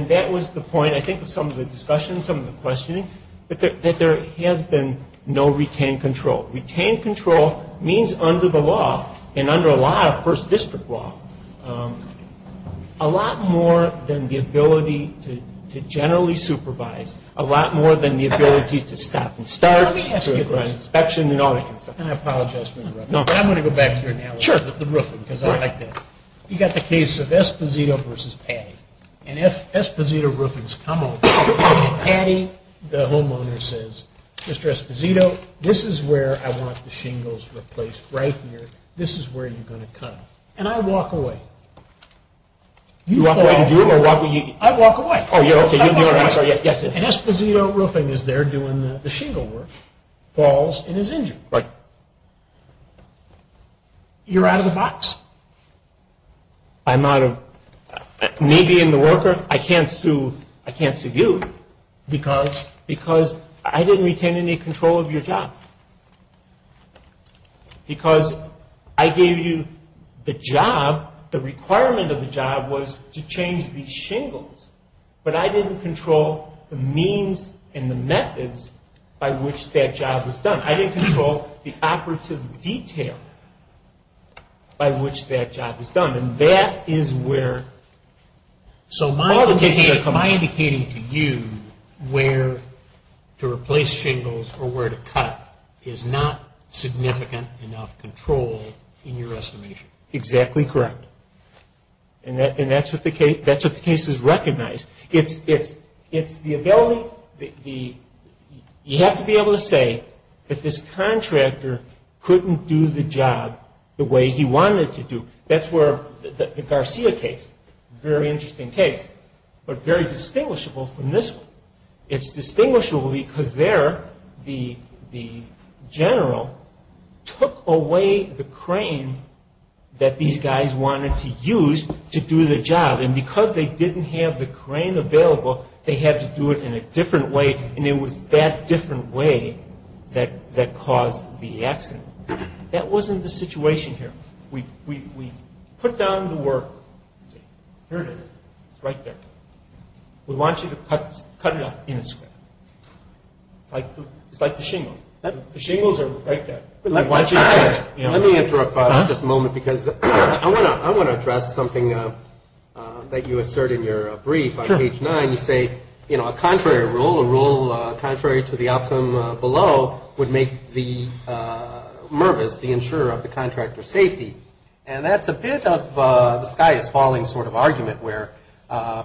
that was the point, I think, of some of the discussion, some of the questioning, that there has been no retained control. Retained control means under the law, and under a lot of first district law, a lot more than the ability to generally supervise, a lot more than the ability to stop and start. Let me ask you this. And I apologize for interrupting. But I'm going to go back to your analogy with the roofing, because I like that. You've got the case of Esposito v. Paddy. And if Esposito Roofing's come over and Paddy, the homeowner, says, Mr. Esposito, this is where I want the shingles replaced right here. This is where you're going to come. And I walk away. You walk away to do it, or walk away? I walk away. Oh, you're okay. I'm sorry. Yes, yes. And Esposito Roofing is there doing the shingle work, falls, and is injured. Right. You're out of the box. I'm out of. Me being the worker, I can't sue you. Because? Because I didn't retain any control of your job. Because I gave you the job. The requirement of the job was to change these shingles. But I didn't control the means and the methods by which that job was done. I didn't control the operative detail by which that job was done. Am I indicating to you where to replace shingles or where to cut is not significant enough control in your estimation? Exactly correct. And that's what the case has recognized. It's the ability, you have to be able to say that this contractor couldn't do the job the way he wanted to do. That's where the Garcia case, very interesting case, but very distinguishable from this one. It's distinguishable because there the general took away the crane that these guys wanted to use to do the job. And because they didn't have the crane available, they had to do it in a different way, and it was that different way that caused the accident. That wasn't the situation here. We put down the work. Here it is. It's right there. We want you to cut it up in a square. It's like the shingles. The shingles are right there. Let me interrupt just a moment because I want to address something that you assert in your brief on page 9. You say, you know, a contrary rule, a rule contrary to the outcome below would make the Mervis the insurer of the contractor's safety. And that's a bit of the sky is falling sort of argument where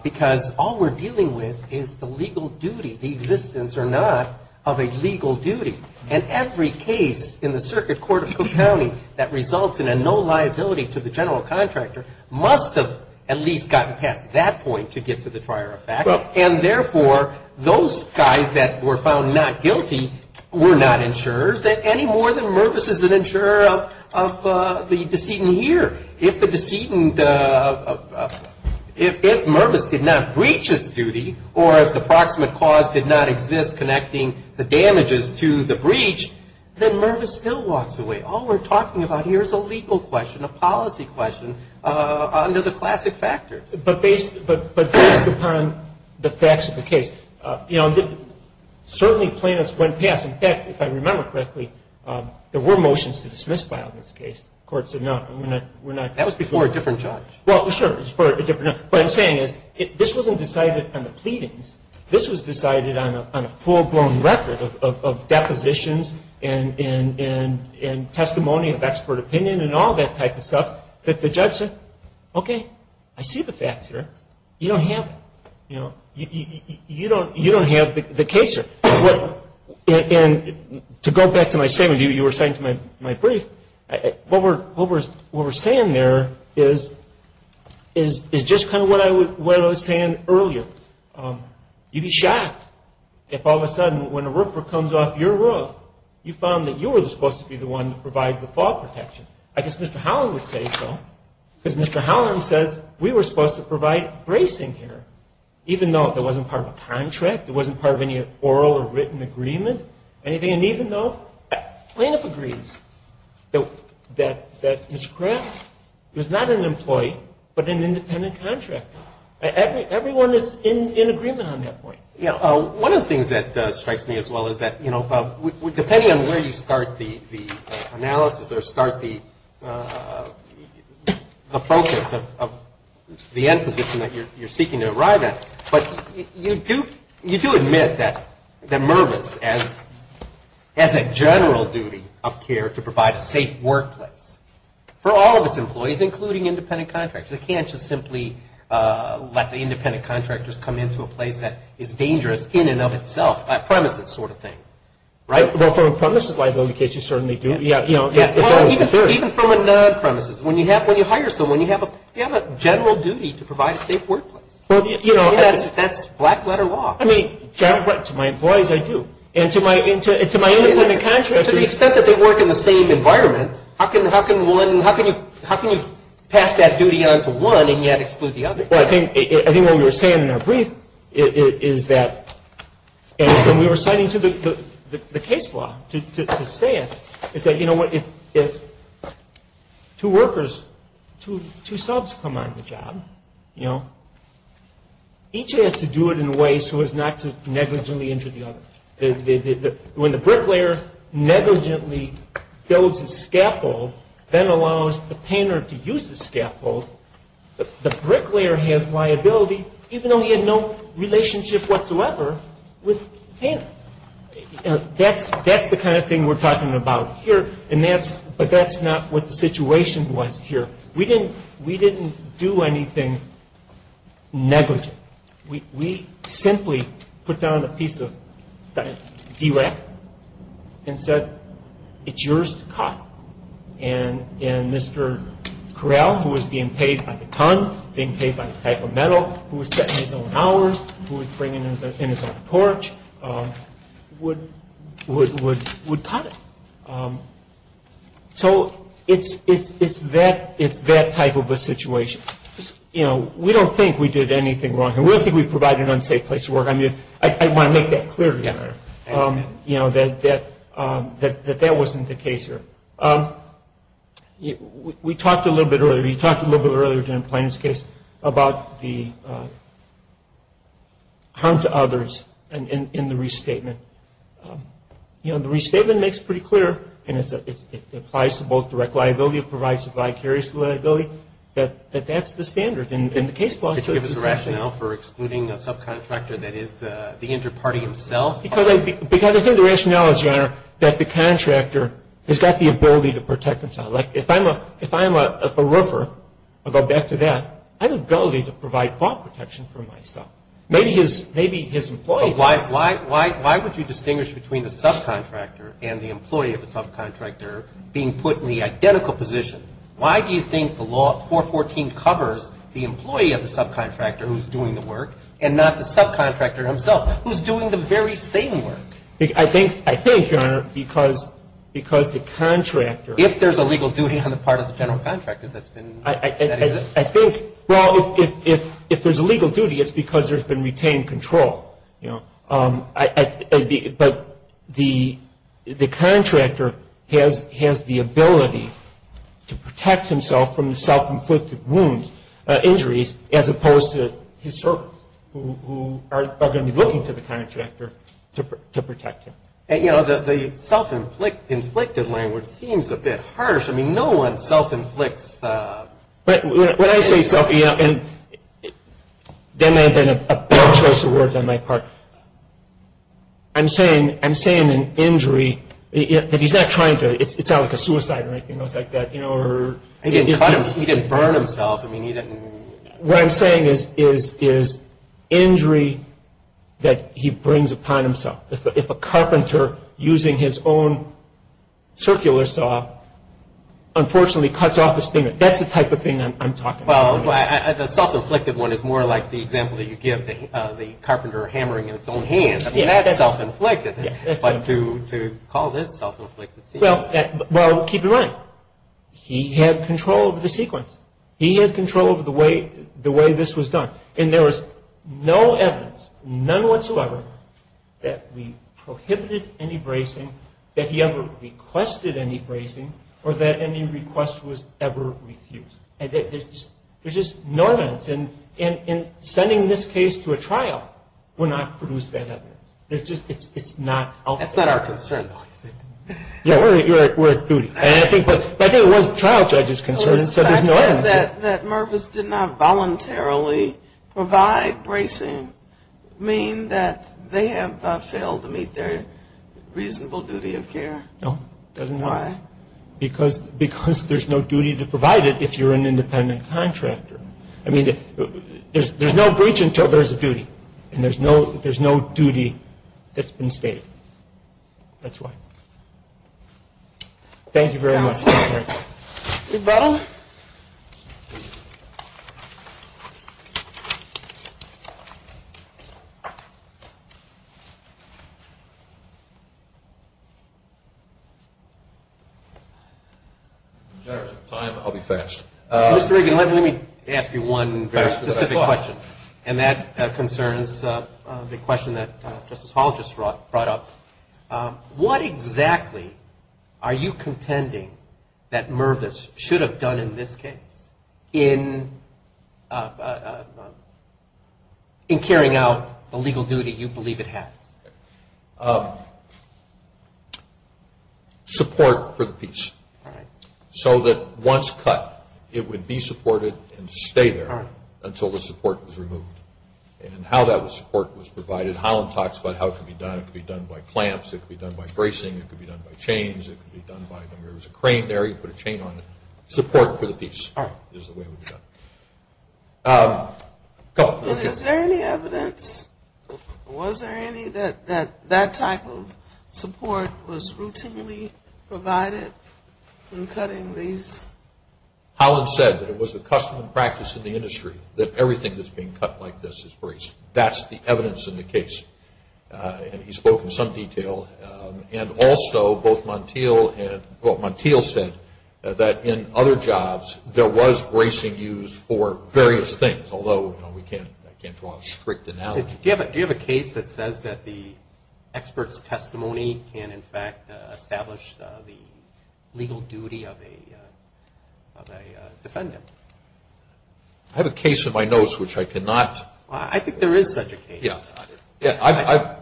because all we're dealing with is the legal duty, the existence or not of a legal duty. And every case in the circuit court of Cook County that results in a no liability to the general contractor must have at least gotten past that point to get to the prior effect. And, therefore, those guys that were found not guilty were not insurers any more than Mervis is an insurer of the decedent here. If the decedent, if Mervis did not breach its duty or if the proximate cause did not exist connecting the damages to the breach, then Mervis still walks away. All we're talking about here is a legal question, a policy question under the classic factors. But based upon the facts of the case, you know, certainly plaintiffs went past. In fact, if I remember correctly, there were motions to dismiss file this case. The court said no. That was before a different judge. Well, sure, it was before a different judge. What I'm saying is this wasn't decided on the pleadings. This was decided on a full-blown record of depositions and testimony of expert opinion and all that type of stuff that the judge said, okay, I see the facts here. You don't have it. You know, you don't have the case here. And to go back to my statement you were saying to my brief, what we're saying there is just kind of what I was saying earlier. You'd be shocked if all of a sudden when a roofer comes off your roof, you found that you were supposed to be the one that provides the fall protection. I guess Mr. Holland would say so because Mr. Holland says we were supposed to provide bracing here, even though it wasn't part of a contract, it wasn't part of any oral or written agreement, anything. And even though plaintiff agrees that Mr. Kraft was not an employee but an independent contractor. Everyone is in agreement on that point. One of the things that strikes me as well is that, you know, depending on where you start the analysis or start the focus of the end position that you're seeking to arrive at, but you do admit that Mervis has a general duty of care to provide a safe workplace for all of its employees, including independent contractors. They can't just simply let the independent contractors come into a place that is dangerous in and of itself, a premises sort of thing, right? Well, from a premises liability case you certainly do. Yeah. Well, even from a non-premises. When you hire someone, you have a general duty to provide a safe workplace. That's black letter law. I mean, to my employees I do. And to my independent contractors. To the extent that they work in the same environment, how can you pass that duty on to one and yet exclude the other? Well, I think what we were saying in our brief is that, and we were citing the case law to say it, is that, you know what, if two workers, two subs come on the job, you know, each has to do it in a way so as not to negligently injure the other. When the bricklayer negligently builds a scaffold, then allows the painter to use the scaffold, the bricklayer has liability even though he had no relationship whatsoever with the painter. That's the kind of thing we're talking about here, but that's not what the situation was here. We didn't do anything negligent. We simply put down a piece of DRAC and said, it's yours to cut. And Mr. Corral, who was being paid by the ton, being paid by the type of metal, who was setting his own hours, who was bringing in his own porch, would cut it. So it's that type of a situation. We don't think we did anything wrong here. We don't think we provided an unsafe place to work. I want to make that clear to you that that wasn't the case here. We talked a little bit earlier, we talked a little bit earlier in the plaintiff's case about the harm to others in the restatement. The restatement makes it pretty clear, and it applies to both direct liability, provides a vicarious liability, that that's the standard in the case law. Could you give us a rationale for excluding a subcontractor that is the injured party himself? Because I think the rationales are that the contractor has got the ability to protect himself. Like if I'm a roofer, I'll go back to that, I have the ability to provide fault protection for myself. Maybe his employee does. Why would you distinguish between the subcontractor and the employee of the subcontractor being put in the identical position? Why do you think the law 414 covers the employee of the subcontractor who's doing the work and not the subcontractor himself who's doing the very same work? I think, Your Honor, because the contractor. If there's a legal duty on the part of the general contractor that's been. I think, well, if there's a legal duty, it's because there's been retained control. But the contractor has the ability to protect himself from the self-inflicted wounds, injuries, as opposed to his servants who are going to be looking to the contractor to protect him. You know, the self-inflicted language seems a bit harsh. I mean, no one self-inflicts. When I say self-inflicted, there may have been a better choice of words on my part. I'm saying an injury that he's not trying to. It's not like a suicide or anything like that. He didn't burn himself. What I'm saying is injury that he brings upon himself. If a carpenter using his own circular saw unfortunately cuts off his finger, that's the type of thing I'm talking about. Well, the self-inflicted one is more like the example that you give, the carpenter hammering in his own hand. I mean, that's self-inflicted. But to call this self-inflicted. Well, keep in mind, he had control of the sequence. He had control of the way this was done. And there was no evidence, none whatsoever, that we prohibited any bracing, that he ever requested any bracing, or that any request was ever refused. There's just no evidence. And in sending this case to a trial, we're not producing that evidence. It's not out there. That's not our concern, though, is it? Yeah, we're at duty. But I think it was the trial judge's concern, so there's no evidence. Does the fact that Mervis did not voluntarily provide bracing mean that they have failed to meet their reasonable duty of care? No, it doesn't. Why? Because there's no duty to provide it if you're an independent contractor. I mean, there's no breach until there's a duty, and there's no duty that's been stated. That's why. Thank you very much. Rebuttal. If we have some time, I'll be fast. Mr. Reagan, let me ask you one very specific question, and that concerns the question that Justice Hall just brought up. What exactly are you contending that Mervis should have done in this case in carrying out the legal duty you believe it has? Support for the piece. All right. So that once cut, it would be supported and stay there until the support was removed. And how that support was provided, Holland talks about how it could be done. It could be done by clamps. It could be done by bracing. It could be done by chains. It could be done by, I mean, there was a crane there. You put a chain on it. Support for the piece is the way it would be done. Is there any evidence, was there any, that that type of support was routinely provided in cutting these? Holland said that it was the custom and practice in the industry that everything that's being cut like this is braced. That's the evidence in the case. And he spoke in some detail. And also both Montiel said that in other jobs there was bracing used for various things, although I can't draw a strict analogy. Do you have a case that says that the expert's testimony can, in fact, establish the legal duty of a defendant? I have a case in my notes which I cannot. Well, I think there is such a case. Yeah,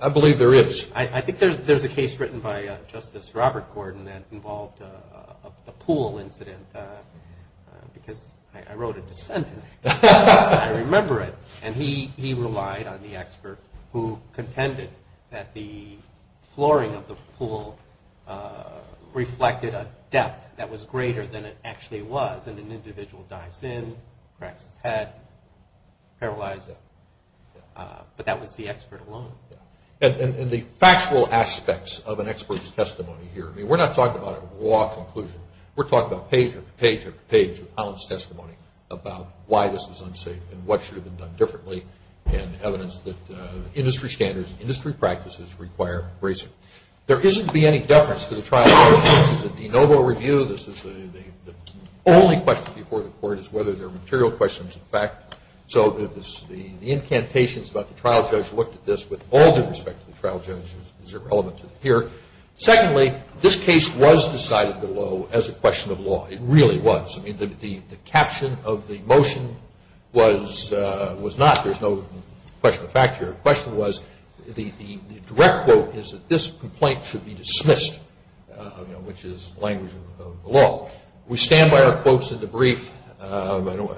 I believe there is. I think there's a case written by Justice Robert Gordon that involved a pool incident because I wrote a dissent in it. I remember it. And he relied on the expert who contended that the flooring of the pool reflected a depth that was greater than it actually was. And an individual dives in, cracks his head, paralyzes him. But that was the expert alone. And the factual aspects of an expert's testimony here, I mean we're not talking about a raw conclusion. We're talking about page after page after page of Holland's testimony about why this is unsafe and what should have been done differently and evidence that industry standards, industry practices require bracing. There isn't to be any deference to the trial. This is a de novo review. This is the only question before the court is whether there are material questions of fact. So the incantations about the trial judge looked at this with all due respect to the trial judge as irrelevant here. Secondly, this case was decided below as a question of law. It really was. I mean the caption of the motion was not. There's no question of fact here. The question was the direct quote is that this complaint should be dismissed, which is language of the law. We stand by our quotes in the brief. They're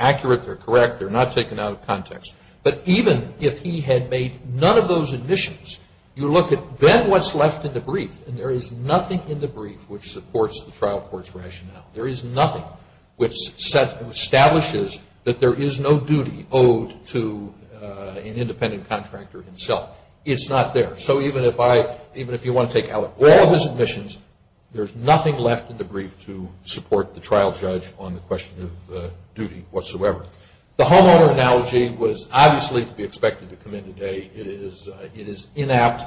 accurate. They're correct. They're not taken out of context. But even if he had made none of those admissions, you look at then what's left in the brief, and there is nothing in the brief which supports the trial court's rationale. There is nothing which establishes that there is no duty owed to an independent contractor himself. It's not there. So even if you want to take out all of his admissions, there's nothing left in the brief to support the trial judge on the question of duty whatsoever. The homeowner analogy was obviously to be expected to come in today. It is inapt.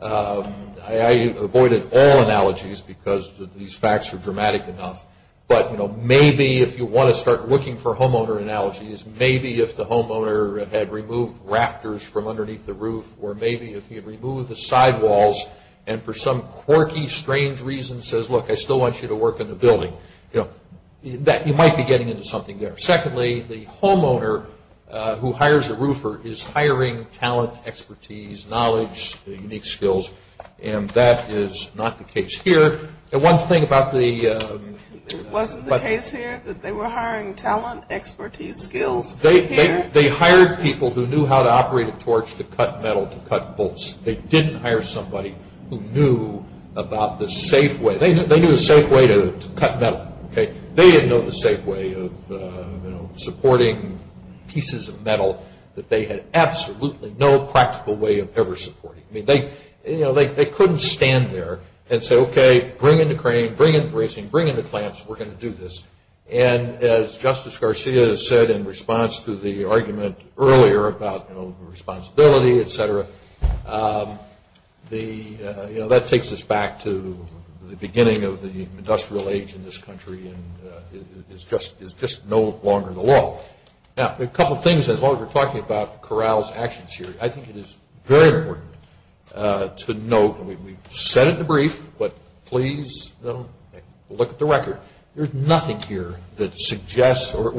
I avoided all analogies because these facts are dramatic enough. But, you know, maybe if you want to start looking for homeowner analogies, maybe if the homeowner had removed rafters from underneath the roof or maybe if he had removed the sidewalls and for some quirky, strange reason says, look, I still want you to work in the building, you know, that you might be getting into something there. Secondly, the homeowner who hires a roofer is hiring talent, expertise, knowledge, unique skills, and that is not the case here. And one thing about the – It wasn't the case here that they were hiring talent, expertise, skills here? They hired people who knew how to operate a torch to cut metal to cut bolts. They didn't hire somebody who knew about the safe way. They knew the safe way to cut metal. They didn't know the safe way of, you know, supporting pieces of metal that they had absolutely no practical way of ever supporting. I mean, they couldn't stand there and say, okay, bring in the crane, bring in the bracing, bring in the clamps, we're going to do this. And as Justice Garcia said in response to the argument earlier about, you know, responsibility, et cetera, you know, that takes us back to the beginning of the industrial age in this country and is just no longer the law. Now, a couple of things as long as we're talking about Corral's actions here. I think it is very important to note, and we've said it in the brief, but please look at the record. There's nothing here that suggests or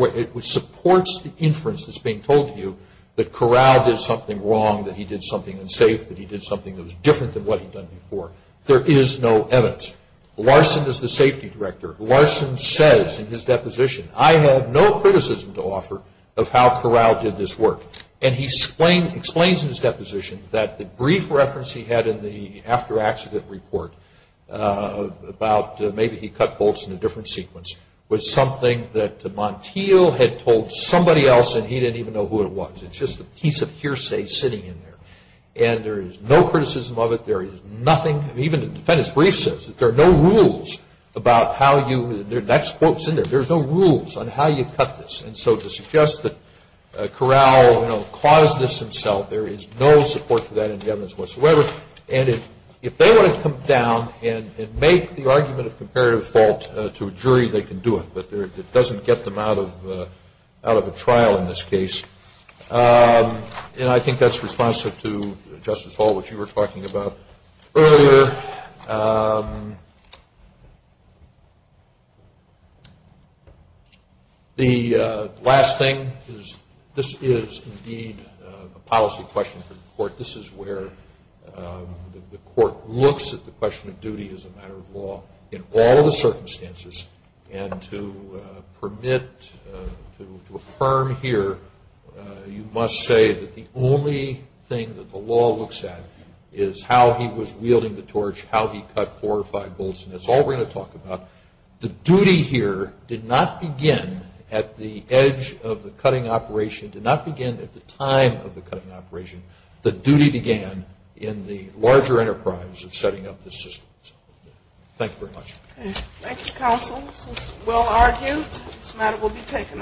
supports the inference that's being told to you that Corral did something wrong, that he did something unsafe, that he did something that was different than what he'd done before. There is no evidence. Larson is the safety director. Larson says in his deposition, I have no criticism to offer of how Corral did this work. And he explains in his deposition that the brief reference he had in the after-accident report about maybe he cut bolts in a different sequence was something that Montiel had told somebody else and he didn't even know who it was. It's just a piece of hearsay sitting in there. And there is no criticism of it. There is nothing, even the defendant's brief says that there are no rules about how you, that quote's in there, there's no rules on how you cut this. And so to suggest that Corral, you know, caused this himself, there is no support for that in the evidence whatsoever. And if they want to come down and make the argument of comparative fault to a jury, they can do it. But it doesn't get them out of a trial in this case. And I think that's responsive to, Justice Hall, what you were talking about earlier. The last thing is this is indeed a policy question for the court. This is where the court looks at the question of duty as a matter of law in all the circumstances. And to permit, to affirm here, you must say that the only thing that the law looks at is how he was wielding the torch, how he cut four or five bolts. And that's all we're going to talk about. The duty here did not begin at the edge of the cutting operation, did not begin at the time of the cutting operation. The duty began in the larger enterprise of setting up the system. Thank you very much. Thank you, counsel. This is well argued. This matter will be taken under consideration.